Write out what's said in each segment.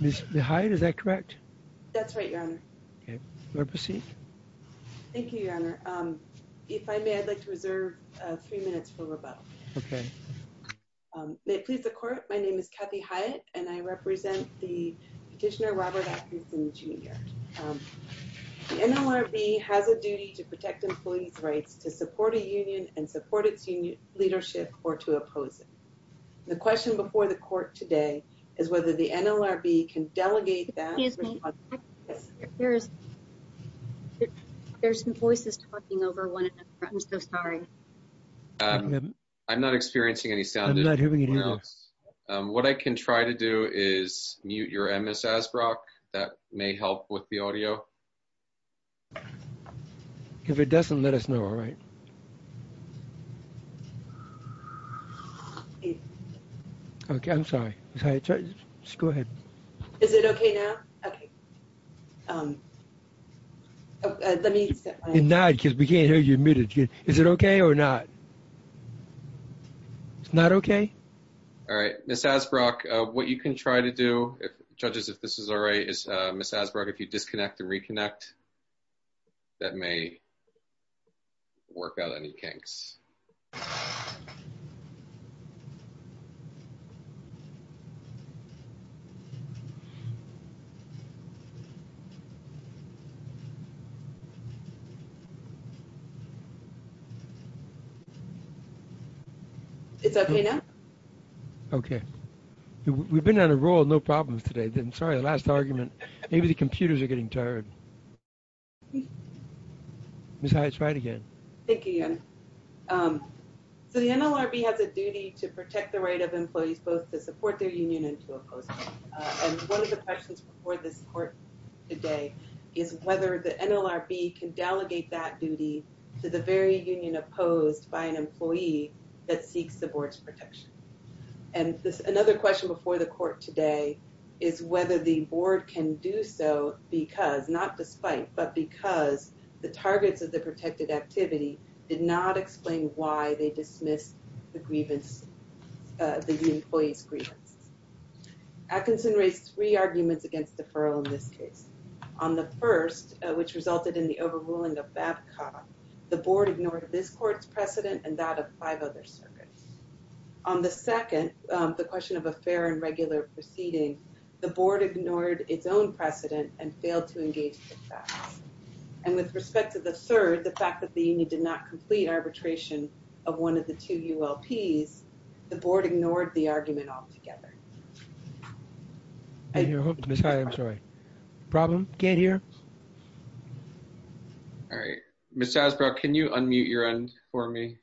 Ms. Hyatt, is that correct? That's right, Your Honor. Okay, you're up for seat. Thank you, Your Honor. If I may, I'd like to reserve three minutes for rebuttal. Okay. May it please the Court, my name is Kathy Hyatt and I represent the petitioner Robert Atkinson Jr. The NLRB has a duty to protect employees' rights to support a union and support its leadership or to oppose it. The question before the Court today is whether the NLRB can delegate that. There's some voices talking over one another. I'm so sorry. I'm not experiencing any sound anywhere else. What I can try to do is mute your MS Asbrock. That may help with the audio. If it doesn't, let us know, all right. Okay, I'm sorry. Ms. Hyatt, just go ahead. Is it okay now? Okay, let me set my... It's not because we can't hear you. Is it okay or not? It's not okay? All right, Ms. Asbrock, what you can try to do, judges, if this is all right, is Ms. Asbrock, if you disconnect and reconnect, that may work out any kinks. It's okay now? Okay. We've been on a roll, no problems today. Sorry, the last argument. Maybe the computers are getting tired. Ms. Hyatt, try it again. Thank you, Ian. So the NLRB has a duty to protect the right of employees both to support their union and to oppose it. And one of the questions before this Court today is whether the NLRB can delegate that duty to the very union opposed by an employee that seeks the Board's protection. And another question before the Court today is whether the Board can do so because, not despite, but because the targets of the protected activity did not explain why they dismissed the grievance, the union employee's grievance. Atkinson raised three arguments against deferral in this case. On the first, which resulted in the overruling of Babcock, the Board ignored this Court's precedent and that of five other circuits. On the second, the question of a fair and regular proceeding, the Board ignored its own precedent and failed to engage the facts. And with respect to the third, the fact that the union did not complete arbitration of one of the two ULPs, the Board ignored the argument altogether. I hear a hook. Ms. Haddock, I'm sorry. Problem? Can't hear? All right. Ms. Hasbrock, can you unmute your end for me?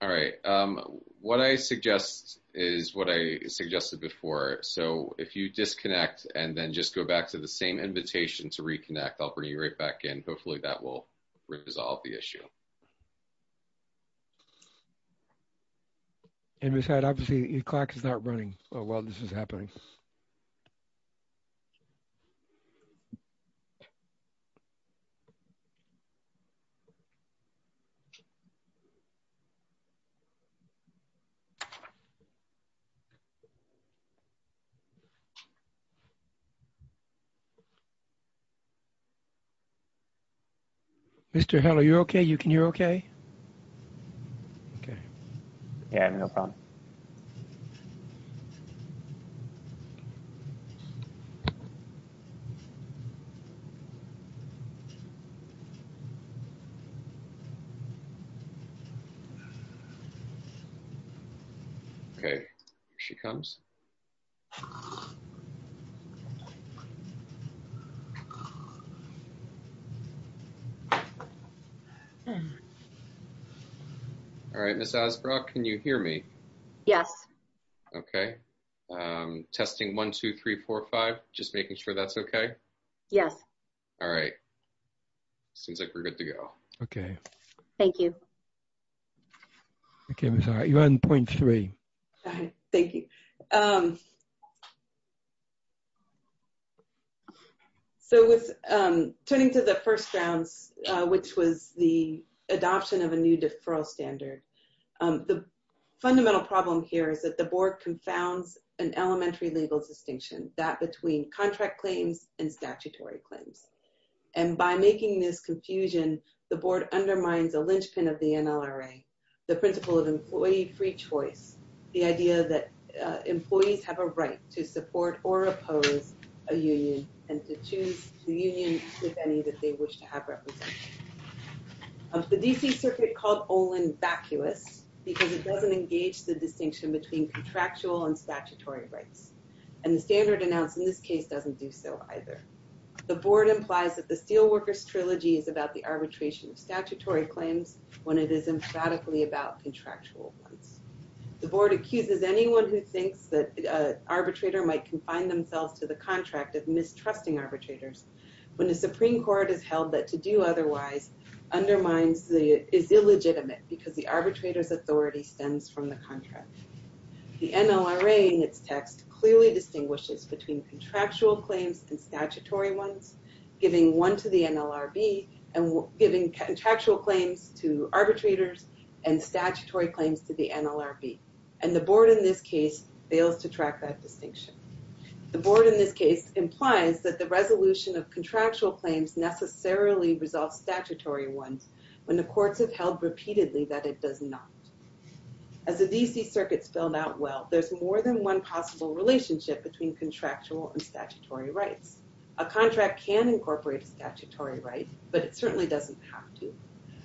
All right. What I suggest is what I suggested before. So, if you disconnect and then just go back to the same invitation to reconnect, I'll bring you right back in. Hopefully, that will resolve the issue. And Ms. Haddock, obviously, your clock is not running while this is happening. Mr. Hill, are you okay? You can hear okay? Okay. Yeah, no problem. Okay. Here she comes. All right. Ms. Hasbrock, can you hear me? Yes. Okay. Testing 1, 2, 3, 4, 5, just making sure that's okay? Yes. All right. Seems like we're good to go. Okay. Thank you. Okay, Ms. Haddock, you're on point three. Thank you. So, with turning to the first rounds, which was the adoption of a new deferral standard, the fundamental problem here is that the board confounds an elementary legal distinction, that between contract claims and statutory claims. And by making this confusion, the board undermines a linchpin of the NLRA, the principle of employee-free choice, the idea that employees have a right to support or oppose a union and to choose the union with any that they because it doesn't engage the distinction between contractual and statutory rights. And the standard announced in this case doesn't do so either. The board implies that the Steelworkers Trilogy is about the arbitration of statutory claims when it is emphatically about contractual ones. The board accuses anyone who thinks that an arbitrator might confine themselves to the contract of mistrusting arbitrators when the Supreme Court has held that to do otherwise undermines, is illegitimate because the arbitrator's authority stems from the contract. The NLRA in its text clearly distinguishes between contractual claims and statutory ones, giving one to the NLRB and giving contractual claims to arbitrators and statutory claims to the NLRB. And the board in this case fails to track that distinction. The board in this case implies that the resolution of contractual claims necessarily resolve statutory ones when the courts have held repeatedly that it does not. As the D.C. Circuit spelled out well, there's more than one possible relationship between contractual and statutory rights. A contract can incorporate a statutory right, but it certainly doesn't have to.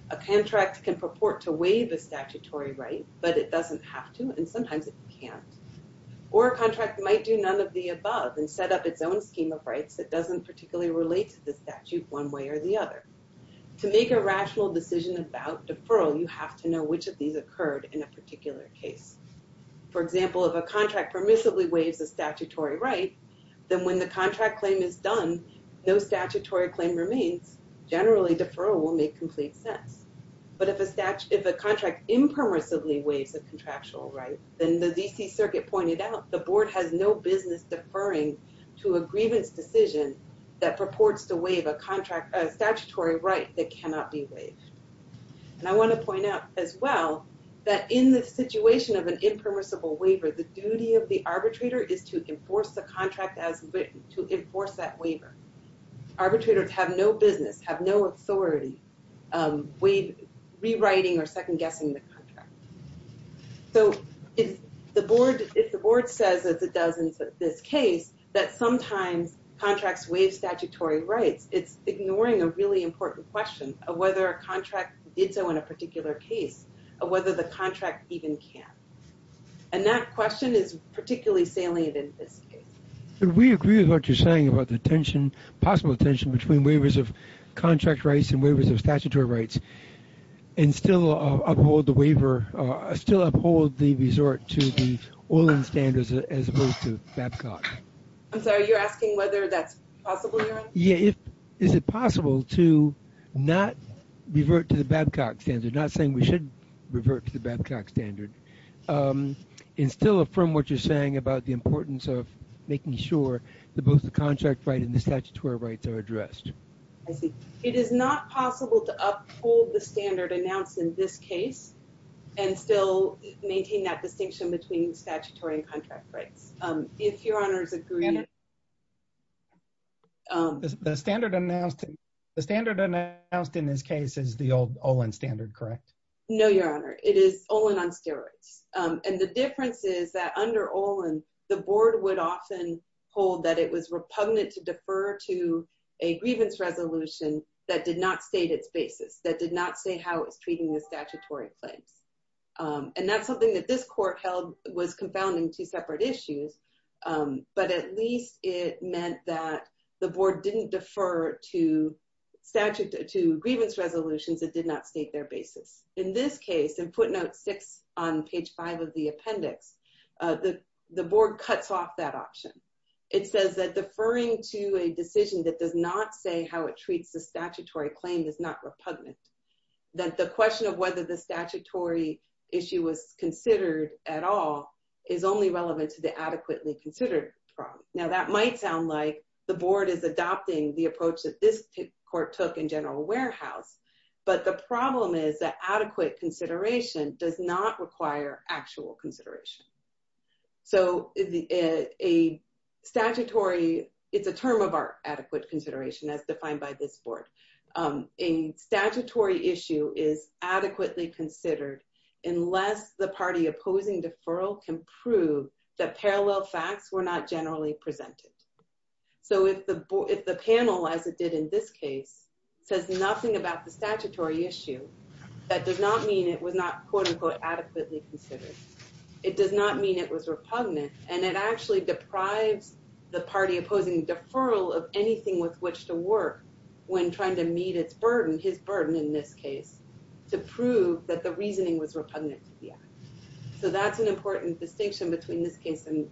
A contract can purport to waive a statutory right, but it doesn't have to, and sometimes it can't. Or a contract might do none of the above and set up its own scheme of rights that doesn't particularly relate to the statute one way or the other. To make a rational decision about deferral, you have to know which of these occurred in a particular case. For example, if a contract permissively waives a statutory right, then when the contract claim is done, no statutory claim remains. Generally, deferral will make complete sense. But if a contract impermissibly waives a contractual right, then the D.C. Circuit pointed out the board has no business deferring to a grievance decision that purports to waive a statutory right that cannot be waived. And I want to point out as well that in the situation of an impermissible waiver, the duty of the arbitrator is to enforce the contract as written, to enforce that waiver. Arbitrators have no business, have no authority rewriting or second-guessing the contract. So if the board says, as it does in this case, that sometimes contracts waive statutory rights, it's ignoring a really important question of whether a contract did so in a particular case, or whether the contract even can. And that question is particularly salient in this case. We agree with what you're saying about the tension, possible tension between waivers of contract rights and waivers of statutory rights, and still uphold the waiver, still uphold the resort to the Olin standards as opposed to Babcock. I'm sorry, you're asking whether that's possible? Yeah, is it possible to not revert to the Babcock standard, not saying we should revert to the Babcock standard, and still affirm what you're saying about the importance of making sure that both the contract right and the statutory rights are addressed? I see. It is not possible to uphold the standard announced in this case, and still maintain that distinction between statutory and contract rights. If your honors agree. The standard announced in this case is the old Olin standard, correct? No, your honor. It is Olin on steroids. And the difference is that under Olin, the board would often hold that it was repugnant to defer to a grievance resolution that did not state its basis, that did not say how it's treating the statutory claims. And that's something that this court held was confounding two separate issues. But at least it meant that the board didn't defer to grievance resolutions that did not state their basis. In this case, in footnote six, on page five of the appendix, the board cuts off that option. It says that deferring to a decision that does not say how it treats the statutory claim is not repugnant. That the question of whether the statutory issue was considered at all is only relevant to the adequately considered problem. Now, that might sound like the board is adopting the approach that this court took in general warehouse. But the problem is that adequate consideration does not require actual consideration. So a statutory, it's a term of our adequate consideration as defined by this board. A statutory issue is adequately considered unless the party opposing deferral can prove that parallel facts were not generally presented. So if the panel, as it did in this case, says nothing about the statutory issue, that does not mean it was not adequately considered. It does not mean it was repugnant. And it actually deprives the party opposing deferral of anything with which to work when trying to meet its burden, his burden in this case, to prove that the reasoning was repugnant to the act. So that's an important distinction between this case and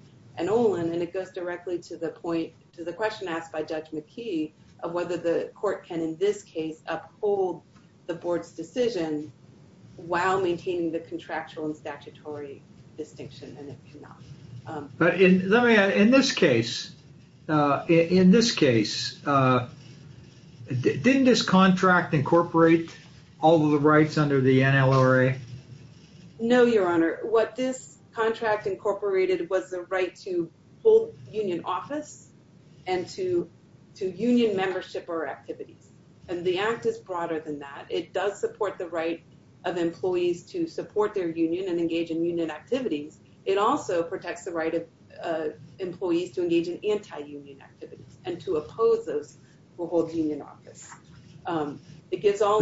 Olin. And it goes directly to the point, to the question asked by Judge McKee of whether the court can, in this case, uphold the board's decision while maintaining the contractual and statutory distinction. And it cannot. But in this case, in this case, didn't this contract incorporate all of the rights under the NLRA? No, Your Honor. What this contract incorporated was the right to hold union office and to union membership or activities. And the act is broader than that. It does support the right of employees to support their union and engage in union activities. It also protects the right of employees to engage in anti-union activities and to oppose those who hold union office. It gives all...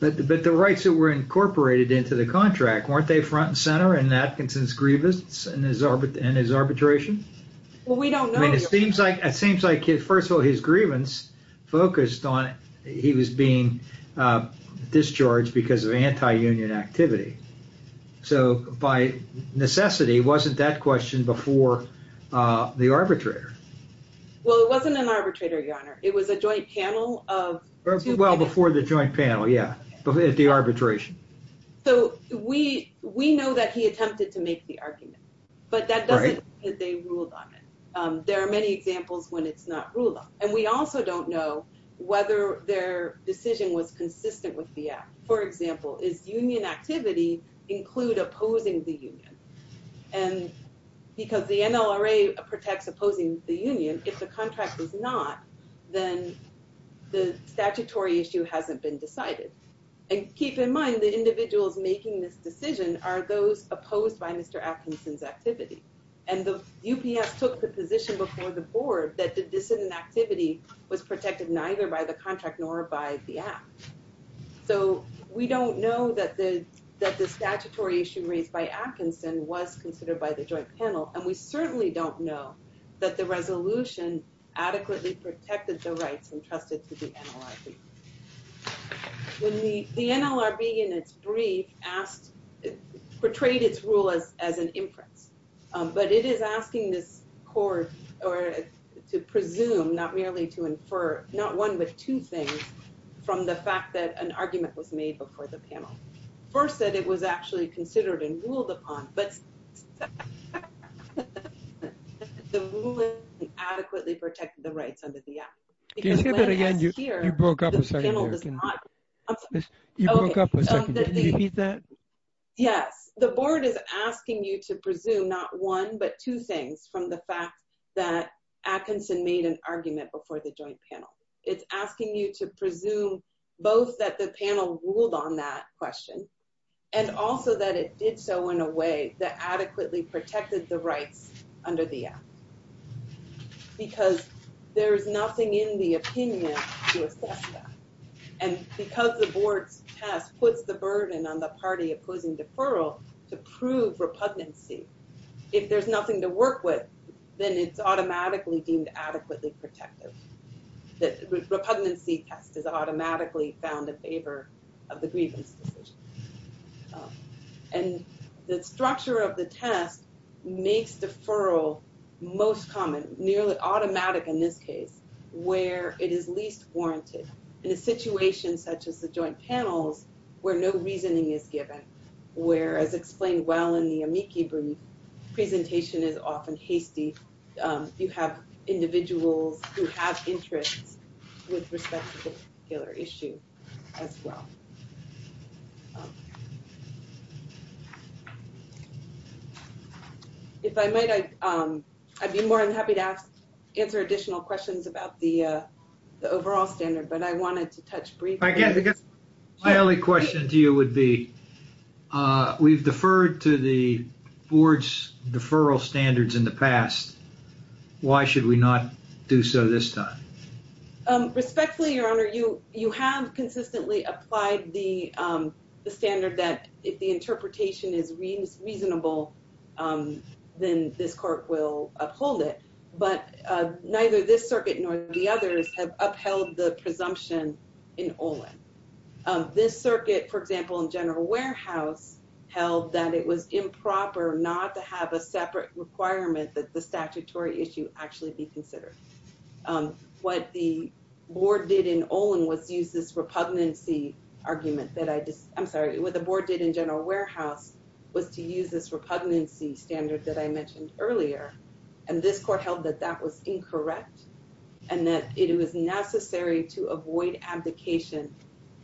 But the rights that were incorporated into the contract, weren't they front and center in Atkinson's grievance and his arbitration? Well, we don't know. I mean, it seems like, first of all, his grievance focused on he was being discharged because of anti-union activity. So by necessity, wasn't that question before the arbitrator? Well, it wasn't an arbitrator, Your Honor. It was a joint panel of... Well, before the joint panel, yeah, at the arbitration. So we know that he attempted to make the argument, but that doesn't mean that they ruled on it. There are many examples when it's not ruled on. And we also don't know whether their decision was consistent with the act. For example, is union activity include opposing the union? And because the NLRA protects opposing the union, if the contract is not, then the statutory issue hasn't been decided. And keep in mind, the individuals making this decision are those opposed by Mr. Atkinson's activity. And the UPS took the position before the board that the dissident activity was protected neither by the contract nor by the act. So we don't know that the statutory issue raised by Atkinson was considered by the joint panel. And we certainly don't know that the resolution adequately protected the rights entrusted to the NLRB. When the NLRB in its brief asked, portrayed its rule as an inference, but it is asking this that an argument was made before the panel. First that it was actually considered and ruled upon, but adequately protected the rights under the act. Yes, the board is asking you to presume not one but two things from the fact that Atkinson made an argument before the joint panel. It's asking you to presume both that the panel ruled on that question, and also that it did so in a way that adequately protected the rights under the act. Because there's nothing in the opinion to assess that. And because the board's task puts the burden on the party opposing deferral to prove repugnancy, if there's nothing to work with, then it's automatically deemed adequately protective. The repugnancy test is automatically found in favor of the grievance decision. And the structure of the test makes deferral most common, nearly automatic in this case, where it is least warranted. In a situation such as the joint panels, where no reasoning is given, where, as explained well in the amici brief, presentation is often hasty, you have individuals who have interests with respect to the particular issue as well. If I might, I'd be more than happy to answer additional questions about the We've deferred to the board's deferral standards in the past. Why should we not do so this time? Respectfully, your honor, you have consistently applied the standard that if the interpretation is reasonable, then this court will uphold it. But neither this circuit nor the others have in general warehouse held that it was improper not to have a separate requirement that the statutory issue actually be considered. What the board did in Olin was use this repugnancy argument that I just, I'm sorry, what the board did in general warehouse was to use this repugnancy standard that I mentioned earlier. And this court held that that was incorrect and that it was necessary to avoid abdication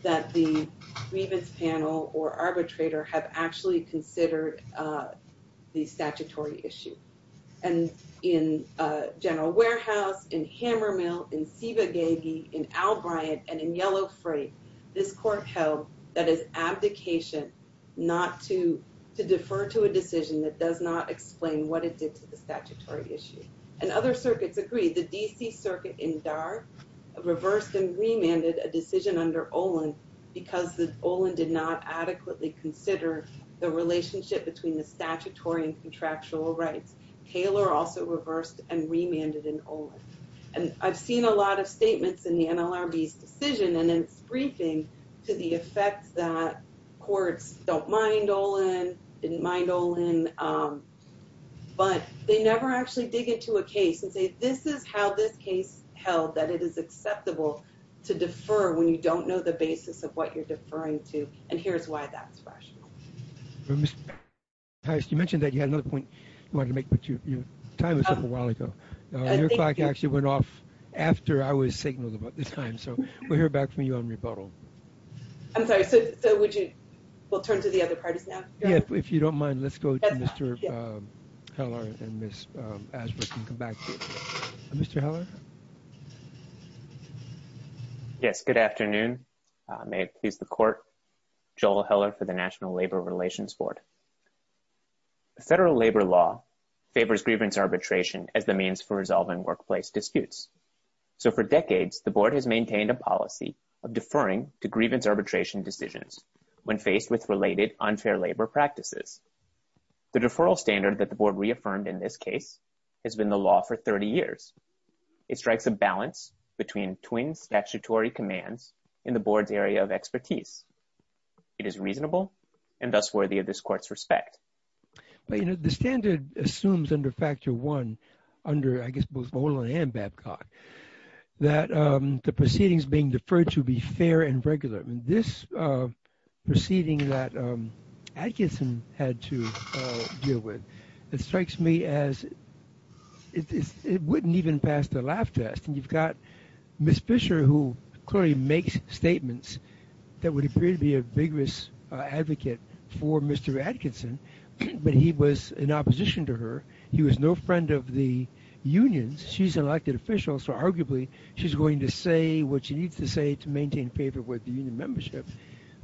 that the grievance panel or arbitrator have actually considered the statutory issue. And in general warehouse, in Hammermill, in Siva Gagy, in Al Bryant, and in Yellow Freight, this court held that it's abdication not to, to defer to a decision that does not explain what it did to the statutory issue. And other circuits agreed. The DC circuit in D.A.R. reversed and remanded a decision under Olin because Olin did not adequately consider the relationship between the statutory and contractual rights. Taylor also reversed and remanded in Olin. And I've seen a lot of statements in the NLRB's decision and its briefing to the effect that courts don't mind Olin, didn't mind Olin, but they never actually dig into a case and say, this is how this case held, that it is acceptable to defer when you don't know the basis of what you're deferring to. And here's why that's rational. You mentioned that you had another point you wanted to make, but your time was up a while ago. Your clock actually went off after I was signaled about this time. So we'll hear back from you on rebuttal. I'm sorry, so would you, we'll turn to the other parties now? Yeah, if you don't mind, let's go to Mr. Heller and Ms. Asbritt and come back to you. Mr. Heller? Yes, good afternoon. May it please the court. Joel Heller for the National Labor Relations Board. Federal labor law favors grievance arbitration as the means for resolving workplace disputes. So for decades, the board has maintained a policy of deferring to grievance arbitration decisions when faced with related unfair labor practices. The deferral standard that the board reaffirmed in this case has been the law for 30 years. It strikes a balance between twin statutory commands in the board's area of expertise. It is reasonable and thus worthy of this court's respect. But, you know, the standard assumes under Factor 1, under, I guess, both Olin and Babcock, that the proceedings being deferred to be fair and regular. This proceeding that Atkinson had to deal with, it strikes me as it wouldn't even pass the laugh test. And you've got Ms. Fisher, who clearly makes statements that would appear to be a vigorous advocate for Mr. Atkinson, but he was in opposition to her. He was no friend of the unions. She's an elected official, so arguably she's going to say what she needs to say to maintain favor with the union membership.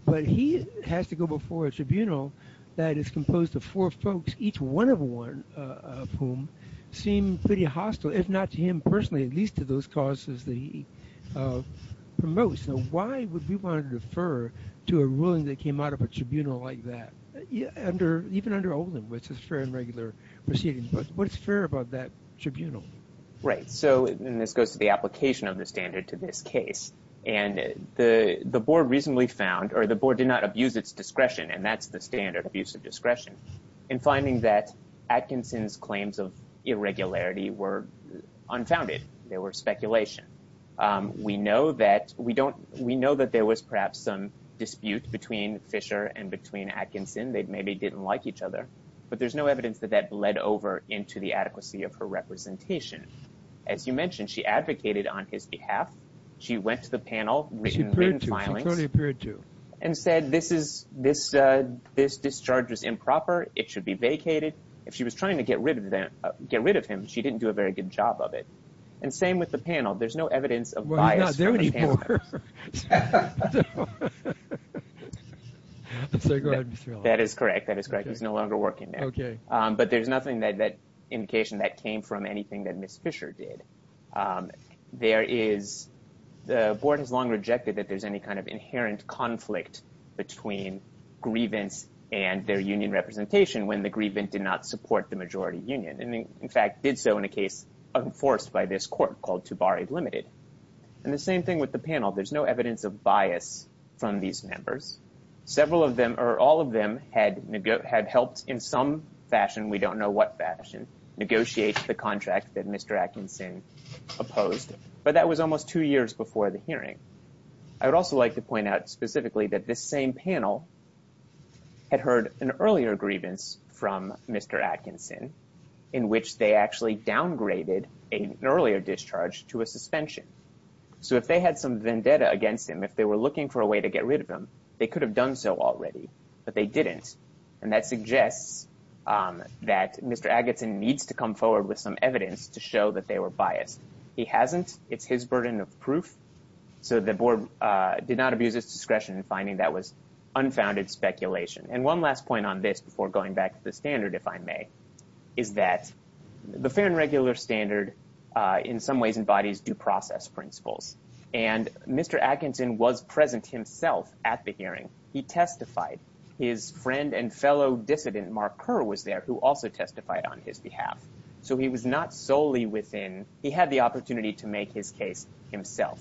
But he has to go before a tribunal that is composed of four folks, each one of whom seemed pretty hostile, if not to him personally, at least to those causes that he promotes. So why would we want to defer to a ruling that came out of a tribunal like that, even under Olin, which is fair and regular proceedings? But what's fair about that is, and this goes to the application of the standard to this case, and the board recently found, or the board did not abuse its discretion, and that's the standard, abuse of discretion, in finding that Atkinson's claims of irregularity were unfounded. They were speculation. We know that we don't, we know that there was perhaps some dispute between Fisher and between Atkinson. They maybe didn't like each other, but there's no evidence that that bled over into the adequacy of her representation. As you mentioned, she advocated on his behalf. She went to the panel, and said this discharge was improper, it should be vacated. If she was trying to get rid of him, she didn't do a very good job of it. And same with the panel. There's no evidence of bias. That is correct, that is correct. He's no longer working there. But there's nothing that indication that came from anything that Miss Fisher did. There is, the board has long rejected that there's any kind of inherent conflict between grievance and their union representation, when the grievance did not support the majority union. And in fact, did so in a case enforced by this court called Tubari Limited. And the same thing with the panel, there's no evidence of bias from these members. Several of them, or all of them, had had helped in some fashion, we don't know what fashion, negotiate the contract that Mr. Atkinson opposed. But that was almost two years before the hearing. I would also like to point out specifically that this same panel had heard an earlier grievance from Mr. Atkinson, in which they actually downgraded an earlier discharge to a suspension. So if they had some vendetta against him, if they were looking for a way to get rid of they could have done so already, but they didn't. And that suggests that Mr. Atkinson needs to come forward with some evidence to show that they were biased. He hasn't, it's his burden of proof. So the board did not abuse its discretion in finding that was unfounded speculation. And one last point on this before going back to the standard, if I may, is that the fair and regular standard in some ways embodies due process principles. And Mr. Atkinson was present himself at the hearing. He testified. His friend and fellow dissident, Mark Kerr, was there who also testified on his behalf. So he was not solely within, he had the opportunity to make his case himself.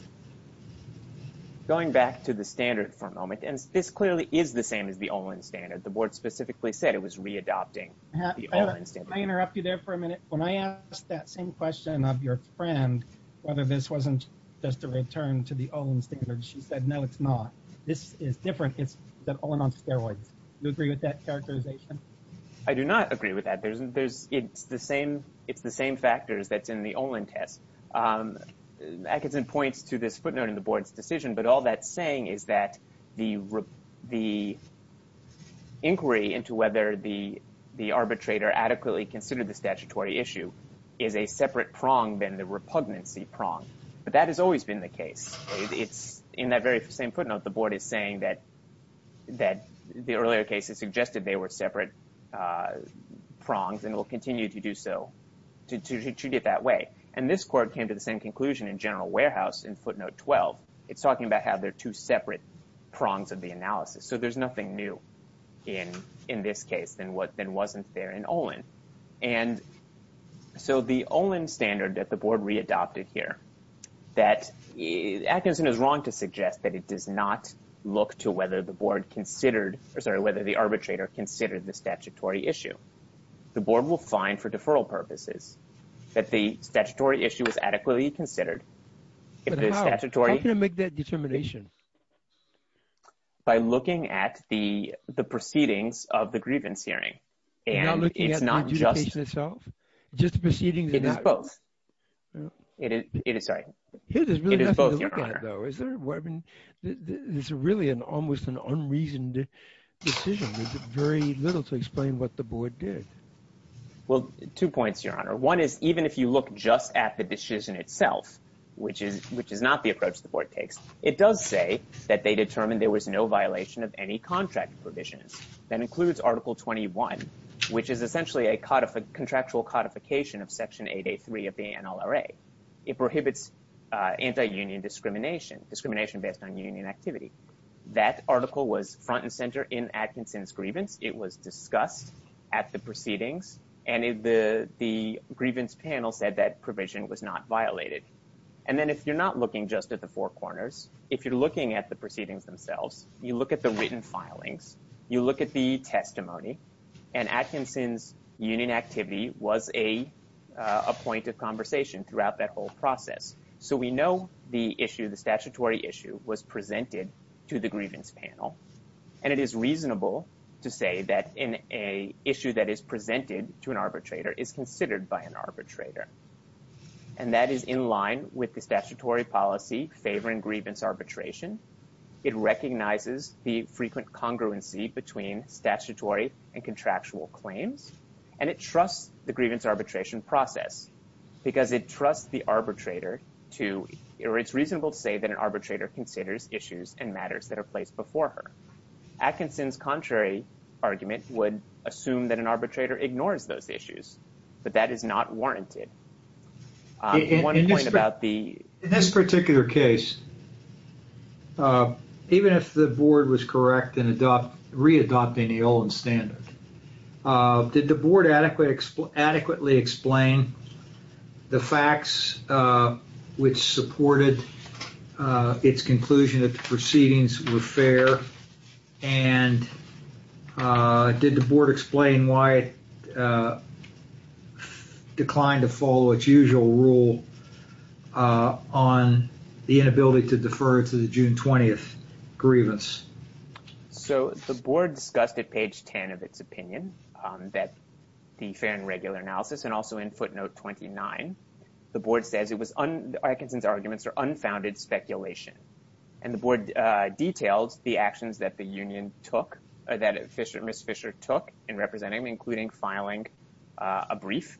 Going back to the standard for a moment, and this clearly is the same as the Olin standard, the board specifically said it was re-adopting. Can I interrupt you there for a minute? When I asked that same question of your friend, whether this wasn't just a return to the Olin standard, she said, no, it's not. This is different. It's the Olin on steroids. Do you agree with that characterization? I do not agree with that. There isn't, there's, it's the same, it's the same factors that's in the Olin test. Atkinson points to this footnote in the board's decision, but all that's saying is that the inquiry into whether the arbitrator adequately considered the statutory issue is a separate prong than the repugnancy prong. But that has always been the case. It's in that very same footnote, the board is saying that, that the earlier cases suggested they were separate prongs and will continue to do so, to treat it that way. And this court came to the same conclusion in General Warehouse in footnote 12. It's talking about how they're two separate prongs of the analysis. So there's nothing new in, in this case than what, than wasn't there in Olin. And so the Olin standard that the board readopted here, that Atkinson is wrong to suggest that it does not look to whether the board considered, or sorry, whether the arbitrator considered the statutory issue. The board will find for deferral purposes that the statutory issue is adequately considered. How can it make that And it's not just itself, just proceeding. It is both. It is, it is, sorry. It's really an almost an unreasoned decision with very little to explain what the board did. Well, two points, your honor. One is even if you look just at the decision itself, which is, which is not the approach the board takes, it does say that they determined there was no violation of any contract provisions. That includes article 21, which is essentially a contractual codification of section 8A3 of the NLRA. It prohibits anti-union discrimination, discrimination based on union activity. That article was front and center in Atkinson's grievance. It was discussed at the proceedings and the grievance panel said that provision was not violated. And then if you're not looking just at the four corners, if you're looking at the proceedings themselves, you look at the written filings, you look at the testimony and Atkinson's union activity was a point of conversation throughout that whole process. So we know the issue, the statutory issue was presented to the grievance panel. And it is reasonable to say that in a issue that is presented to an arbitrator is considered by an arbitrator. And that is in line with the statutory policy favoring grievance arbitration. It recognizes the frequent congruency between statutory and contractual claims. And it trusts the grievance arbitration process because it trusts the arbitrator to, or it's reasonable to say that an arbitrator considers issues and matters that are placed before her. Atkinson's contrary argument would assume that an arbitrator ignores those issues. In this particular case, even if the board was correct in adopt, re-adopting the Olin standard, did the board adequately explain the facts which supported its conclusion that the proceedings were fair? And did the board explain why it declined to follow its usual rule on the inability to defer to the June 20th grievance? So the board discussed at page 10 of its opinion that the fair and regular analysis, and also in footnote 29, the board says it was, Atkinson's arguments are unfounded speculation. And the board detailed the actions that the union took, or that Fischer, Ms. Fischer took in representing, including filing a brief.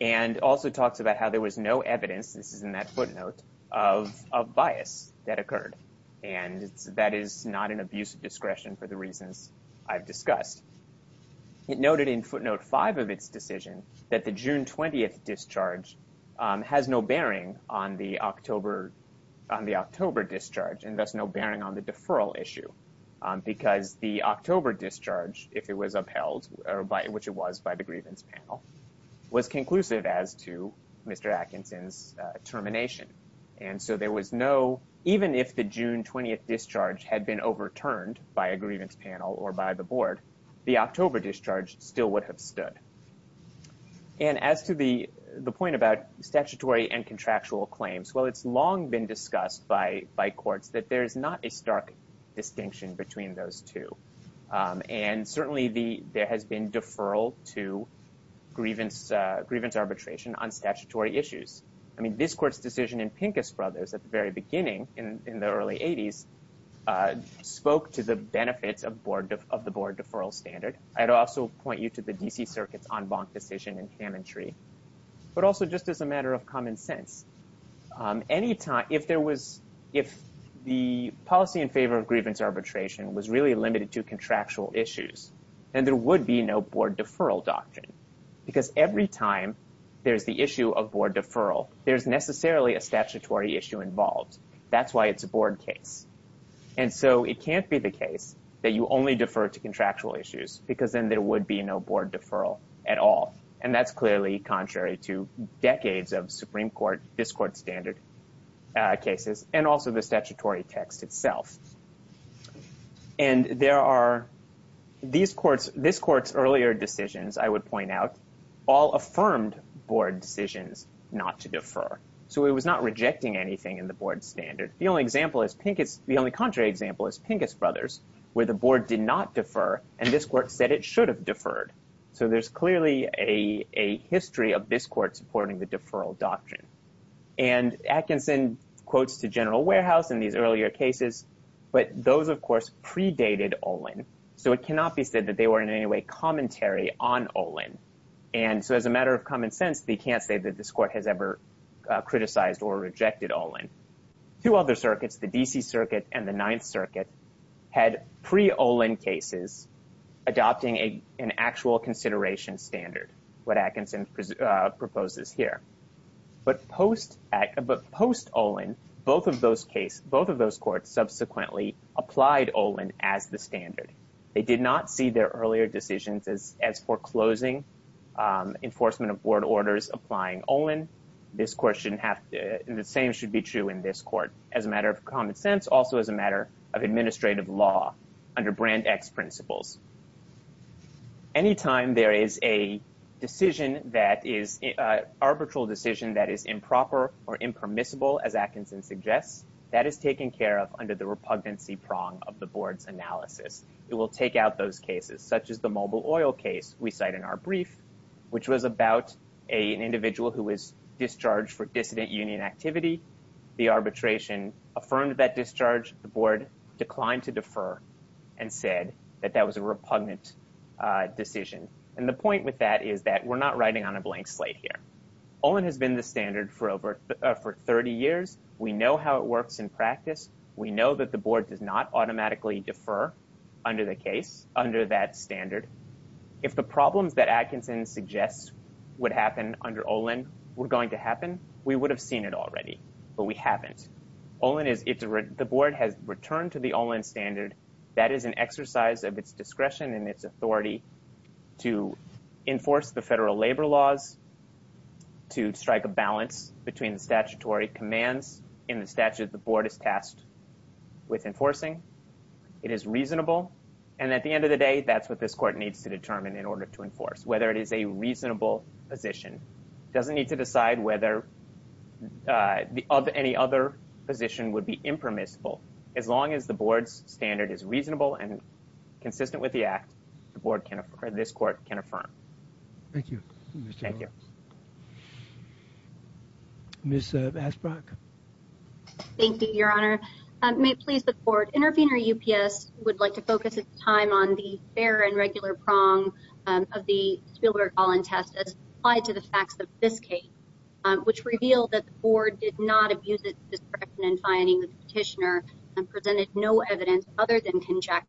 And also talks about how there was no evidence, this is in that footnote, of bias that occurred. And that is not an abuse of discretion for the reasons I've discussed. It noted in footnote 5 of its decision that the June 20th discharge has no bearing on the October, on the October discharge, and thus no bearing on the deferral issue. Because the October discharge, if it was was conclusive as to Mr. Atkinson's termination. And so there was no, even if the June 20th discharge had been overturned by a grievance panel or by the board, the October discharge still would have stood. And as to the point about statutory and contractual claims, well, it's long been discussed by courts that there's not a stark distinction between those two. And certainly there has been deferral to grievance arbitration on statutory issues. I mean, this court's decision in Pincus Brothers at the very beginning, in the early 80s, spoke to the benefits of the board deferral standard. I'd also point you to the D.C. Circuit's en banc decision in Hammondtree. But also just as a matter of common sense, any time, if there was, if the policy in favor of grievance arbitration was really limited to contractual issues, then there would be no board deferral doctrine. Because every time there's the issue of board deferral, there's necessarily a statutory issue involved. That's why it's a board case. And so it can't be the case that you only defer to contractual issues, because then there would be no board deferral at all. And that's clearly contrary to decades of Supreme Court, this court's standard cases, and also the statutory text itself. And there are, these courts, this court's earlier decisions, I would point out, all affirmed board decisions not to defer. So it was not rejecting anything in the board standard. The only example is Pincus, the only contrary example is Pincus Brothers, where the board did not defer, and this court said it should have deferred. So there's clearly a history of this court supporting the deferral doctrine. And Atkinson quotes to General Warehouse in these earlier cases, but those, of course, predated Olin. So it cannot be said that they were in any way commentary on Olin. And so as a matter of common sense, they can't say that this court has ever criticized or rejected Olin. Two other standard, what Atkinson proposes here. But post Olin, both of those cases, both of those courts subsequently applied Olin as the standard. They did not see their earlier decisions as foreclosing enforcement of board orders applying Olin. This court shouldn't have, the same should be true in this court, as a matter of common sense, also as a matter of administrative law under brand X principles. Anytime there is a decision that is, arbitral decision that is improper or impermissible, as Atkinson suggests, that is taken care of under the repugnancy prong of the board's analysis. It will take out those cases, such as the Mobil Oil case we cite in our brief, which was about an individual who was discharged for dissident union activity. The arbitration affirmed that discharge. The board declined to defer and said that that was a repugnant decision. And the point with that is that we're not writing on a blank slate here. Olin has been the standard for over, for 30 years. We know how it works in practice. We know that the board does not automatically defer under the case, under that standard. If the problems that Atkinson suggests would happen under Olin were going to happen, we would have seen it already. But we haven't. The board has returned to the Olin standard. That is an exercise of its discretion and its authority to enforce the federal labor laws, to strike a balance between the statutory commands in the statute the board is tasked with enforcing. It is reasonable. And at the end of the day, that's what this court needs to determine in order to enforce, whether it is a reasonable position. It doesn't need to decide whether of any other position would be impermissible. As long as the board's standard is reasonable and consistent with the act, the board can, or this court can affirm. Thank you. Ms. Asbrock? Thank you, your honor. May it please the board, intervener UPS would like to focus its time on the fair and regular prong of the Spielberg-Olin test as applied to the facts of this case. Which revealed that the board did not abuse its discretion in finding the petitioner and presented no evidence other than conjecture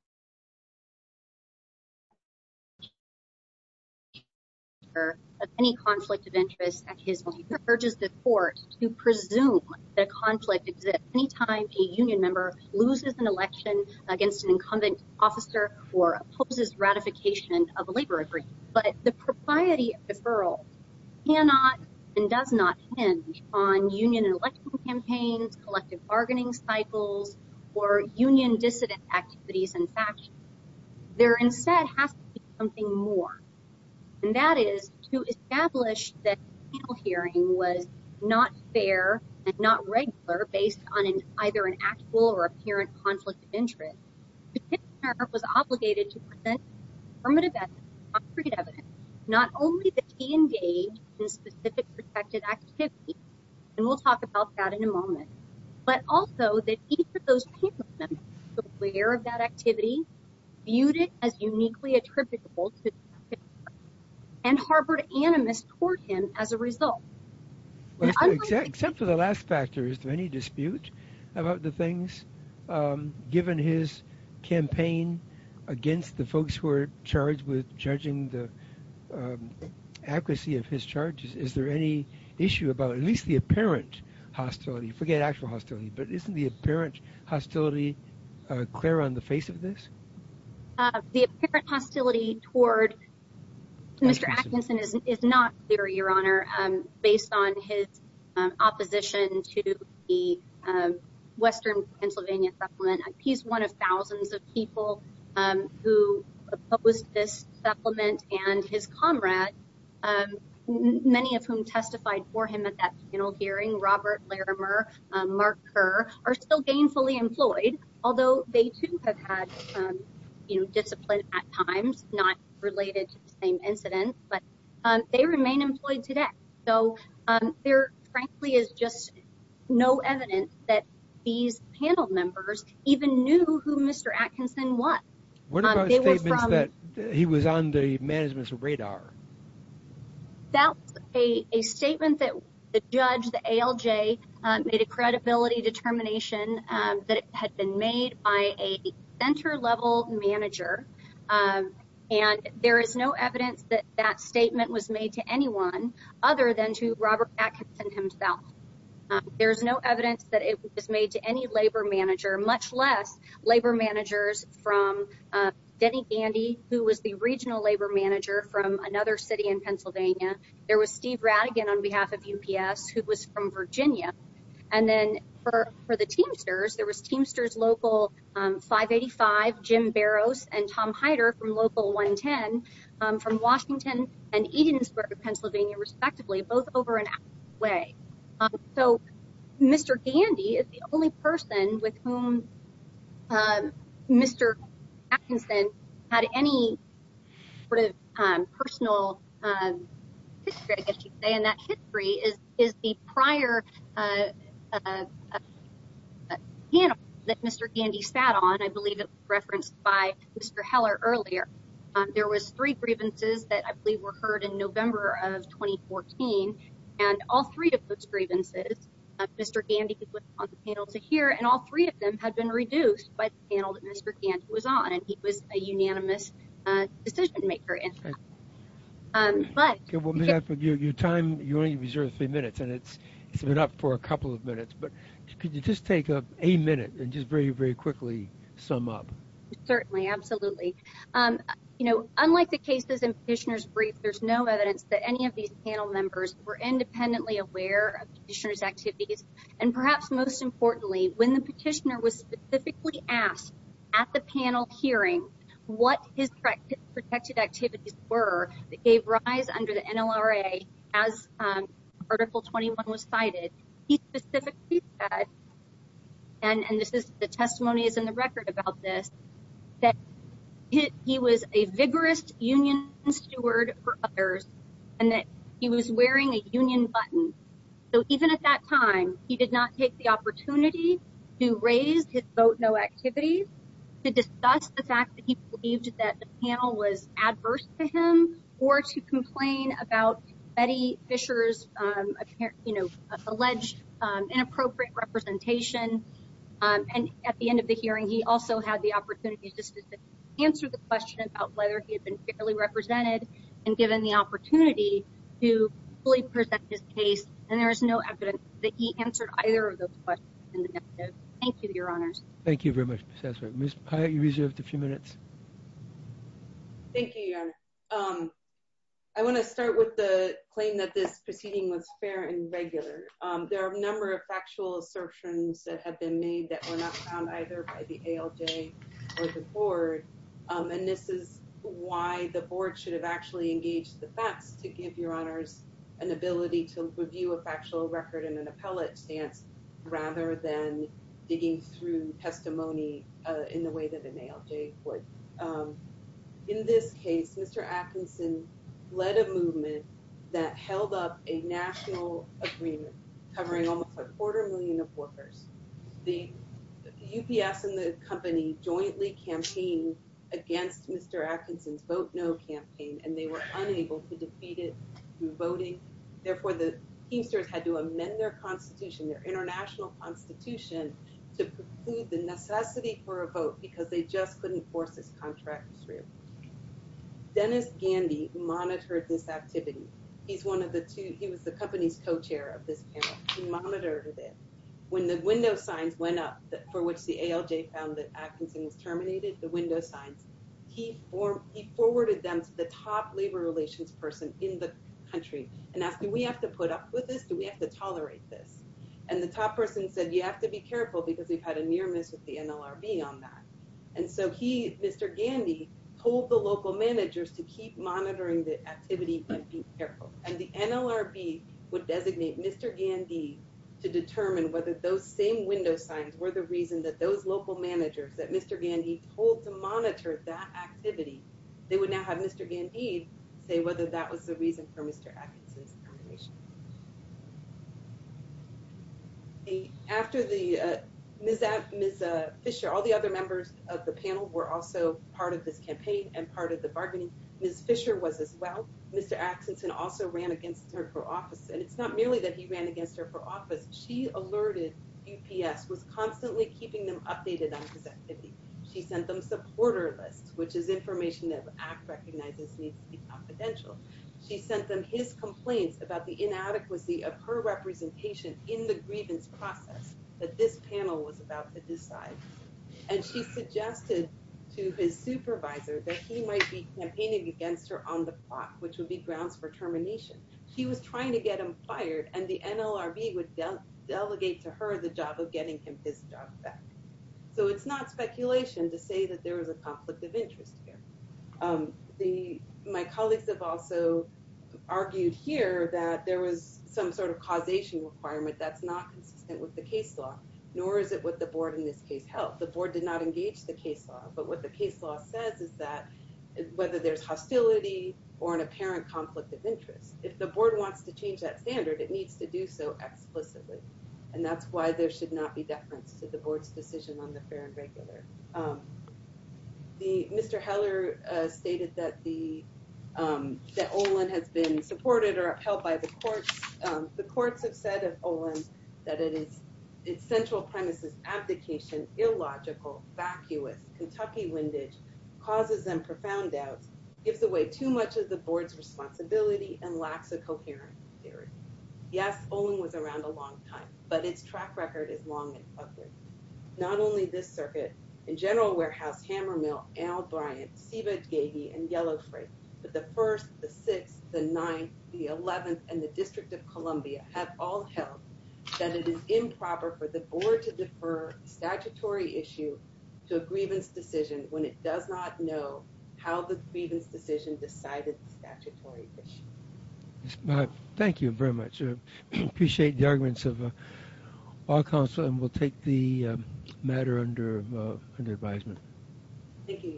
of any conflict of interest at his will. He urges the court to presume that conflict exists anytime a union member loses an election against an incumbent officer or opposes ratification of on union election campaigns, collective bargaining cycles, or union dissident activities and factions. There instead has to be something more. And that is to establish that hearing was not fair and not regular based on either an actual or apparent conflict of interest. The petitioner was obligated to present affirmative evidence, concrete evidence, not only that he engaged in specific protected activity, and we'll talk about that in a moment, but also that each of those panel members was aware of that activity, viewed it as uniquely attributable, and harbored animus toward him as a result. Except for the last factor, is there any dispute about the things given his campaign against the folks who are charged with judging the accuracy of his charges? Is there any issue about at least the apparent hostility? Forget actual hostility, but isn't the apparent hostility clear on the face of this? The apparent hostility toward Mr. Atkinson is not clear, Your Honor, based on his opposition to the Pennsylvania Supplement. He's one of thousands of people who opposed this supplement, and his comrade, many of whom testified for him at that panel hearing, Robert Larimer, Mark Kerr, are still gainfully employed, although they too have had, you know, discipline at times, not related to the same incident, but they remain employed today. So there frankly is just no evidence that these panel members even knew who Mr. Atkinson was. What about statements that he was on the management's radar? That's a statement that the judge, the ALJ, made a credibility determination that it had been made by a center-level manager, and there is no evidence that that statement was made to anyone other than to Robert Atkinson himself. There's no evidence that it was made to any labor manager, much less labor managers from Denny Gandy, who was the regional labor manager from another city in Pennsylvania. There was Steve Rattigan on behalf of UPS, who was from Virginia. And then for the Teamsters, there was Teamsters local 585, Jim Barrows, and Tom Heider from local 110 from Washington and Eden Square, Pennsylvania, respectively, both over and out of the way. So Mr. Gandy is the only person with whom Mr. Atkinson had any sort of personal history, I guess you could say, and that history is the prior panel that Mr. Gandy sat on. I believe it was referenced by Mr. Heller earlier. There was three grievances that I believe were heard in November of 2014, and all three of those grievances, Mr. Gandy was on the panel to hear, and all three of them had been reduced by the panel that Mr. Gandy was on, and he was a unanimous decision maker. Your time, you only reserve three minutes, and it's been up for a couple of minutes, but could you just take a minute and just very, very quickly sum up? Certainly, absolutely. You know, unlike the cases in Petitioner's brief, there's no evidence that any of these panel members were independently aware of Petitioner's activities, and perhaps most importantly, when the Petitioner was specifically asked at the panel hearing what his protected activities were that gave rise under the NLRA as Article 21 was cited, he specifically said, and this is the testimony that's in the record about this, that he was a vigorous union steward for others, and that he was wearing a union button. So even at that time, he did not take the opportunity to raise his vote no activities to discuss the fact that he believed that the or to complain about Betty Fisher's, you know, alleged inappropriate representation, and at the end of the hearing, he also had the opportunity to answer the question about whether he had been fairly represented and given the opportunity to fully present his case, and there is no evidence that he answered either of those questions in the negative. Thank you, Your Honors. Thank you very much, Ms. Essmer. Ms. Pyatt, you reserved a few minutes. Thank you, Your Honor. I want to start with the claim that this proceeding was fair and regular. There are a number of factual assertions that have been made that were not found either by the ALJ or the Board, and this is why the Board should have actually engaged the facts to give Your Honors an ability to review a factual record in an appellate stance rather than digging through testimony in the way that an ALJ would. In this case, Mr. Atkinson led a movement that held up a national agreement covering almost a quarter million of workers. The UPS and the company jointly campaigned against Mr. Atkinson's vote no campaign, and they were unable to defeat it through voting. Therefore, the teamsters had to amend their constitution, their international constitution, to preclude the necessity for a vote because they just couldn't force this contract through. Dennis Gandy monitored this activity. He's one of the two. He was the company's co-chair of this panel. He monitored it. When the window signs went up for which the ALJ found that Atkinson was terminated, the window signs, he forwarded them to the top labor relations person in the country and asked, do we have to put up with this? Do we have to tolerate this? And the top person said, you have to be careful because we've had a near miss with the NLRB on that. And so he, Mr. Gandy, told the local managers to keep monitoring the activity and be careful. And the NLRB would designate Mr. Gandy to determine whether those same window signs were the reason that those local managers that Mr. Gandy told to monitor that activity, they would now have Mr. Gandy say whether that was the reason for Mr. Atkinson's termination. The, after the, uh, Ms. Fisher, all the other members of the panel were also part of this campaign and part of the bargaining. Ms. Fisher was as well. Mr. Atkinson also ran against her for office. And it's not merely that he ran against her for office. She alerted UPS was constantly keeping them updated on his activity. She sent them supporter lists, which is information that ACT recognizes needs to be confidential. She sent them his complaints about the inadequacy of her representation in the grievance process that this panel was about to decide. And she suggested to his supervisor that he might be campaigning against her on the plot, which would be grounds for termination. She was trying to get him fired and the NLRB would delegate to her the job of getting him his job back. So it's not speculation to say that there is some sort of causation requirement that's not consistent with the case law, nor is it what the board in this case held. The board did not engage the case law, but what the case law says is that whether there's hostility or an apparent conflict of interest, if the board wants to change that standard, it needs to do so explicitly. And that's why there should not be deference to the board's decision on the fair and regular. Um, the Mr. Heller, uh, stated that the, um, that Olin has been supported or upheld by the courts. Um, the courts have said of Olin that it is its central premises, abdication, illogical, vacuous Kentucky windage causes them profound doubts, gives away too much of the board's responsibility and lacks a coherent theory. Yes, Olin was around a long time, but its track record is long and ugly. Not only this circuit in general warehouse, hammer mill, Al Bryant, Siva, Gaby, and yellow freight, but the first, the sixth, the ninth, the 11th and the district of Columbia have all held that it is improper for the board to defer statutory issue to a grievance decision when it does not know how the grievance decision decided the statutory issue. Thank you very much. Appreciate the arguments of our council and we'll take the matter under, uh, under advisement.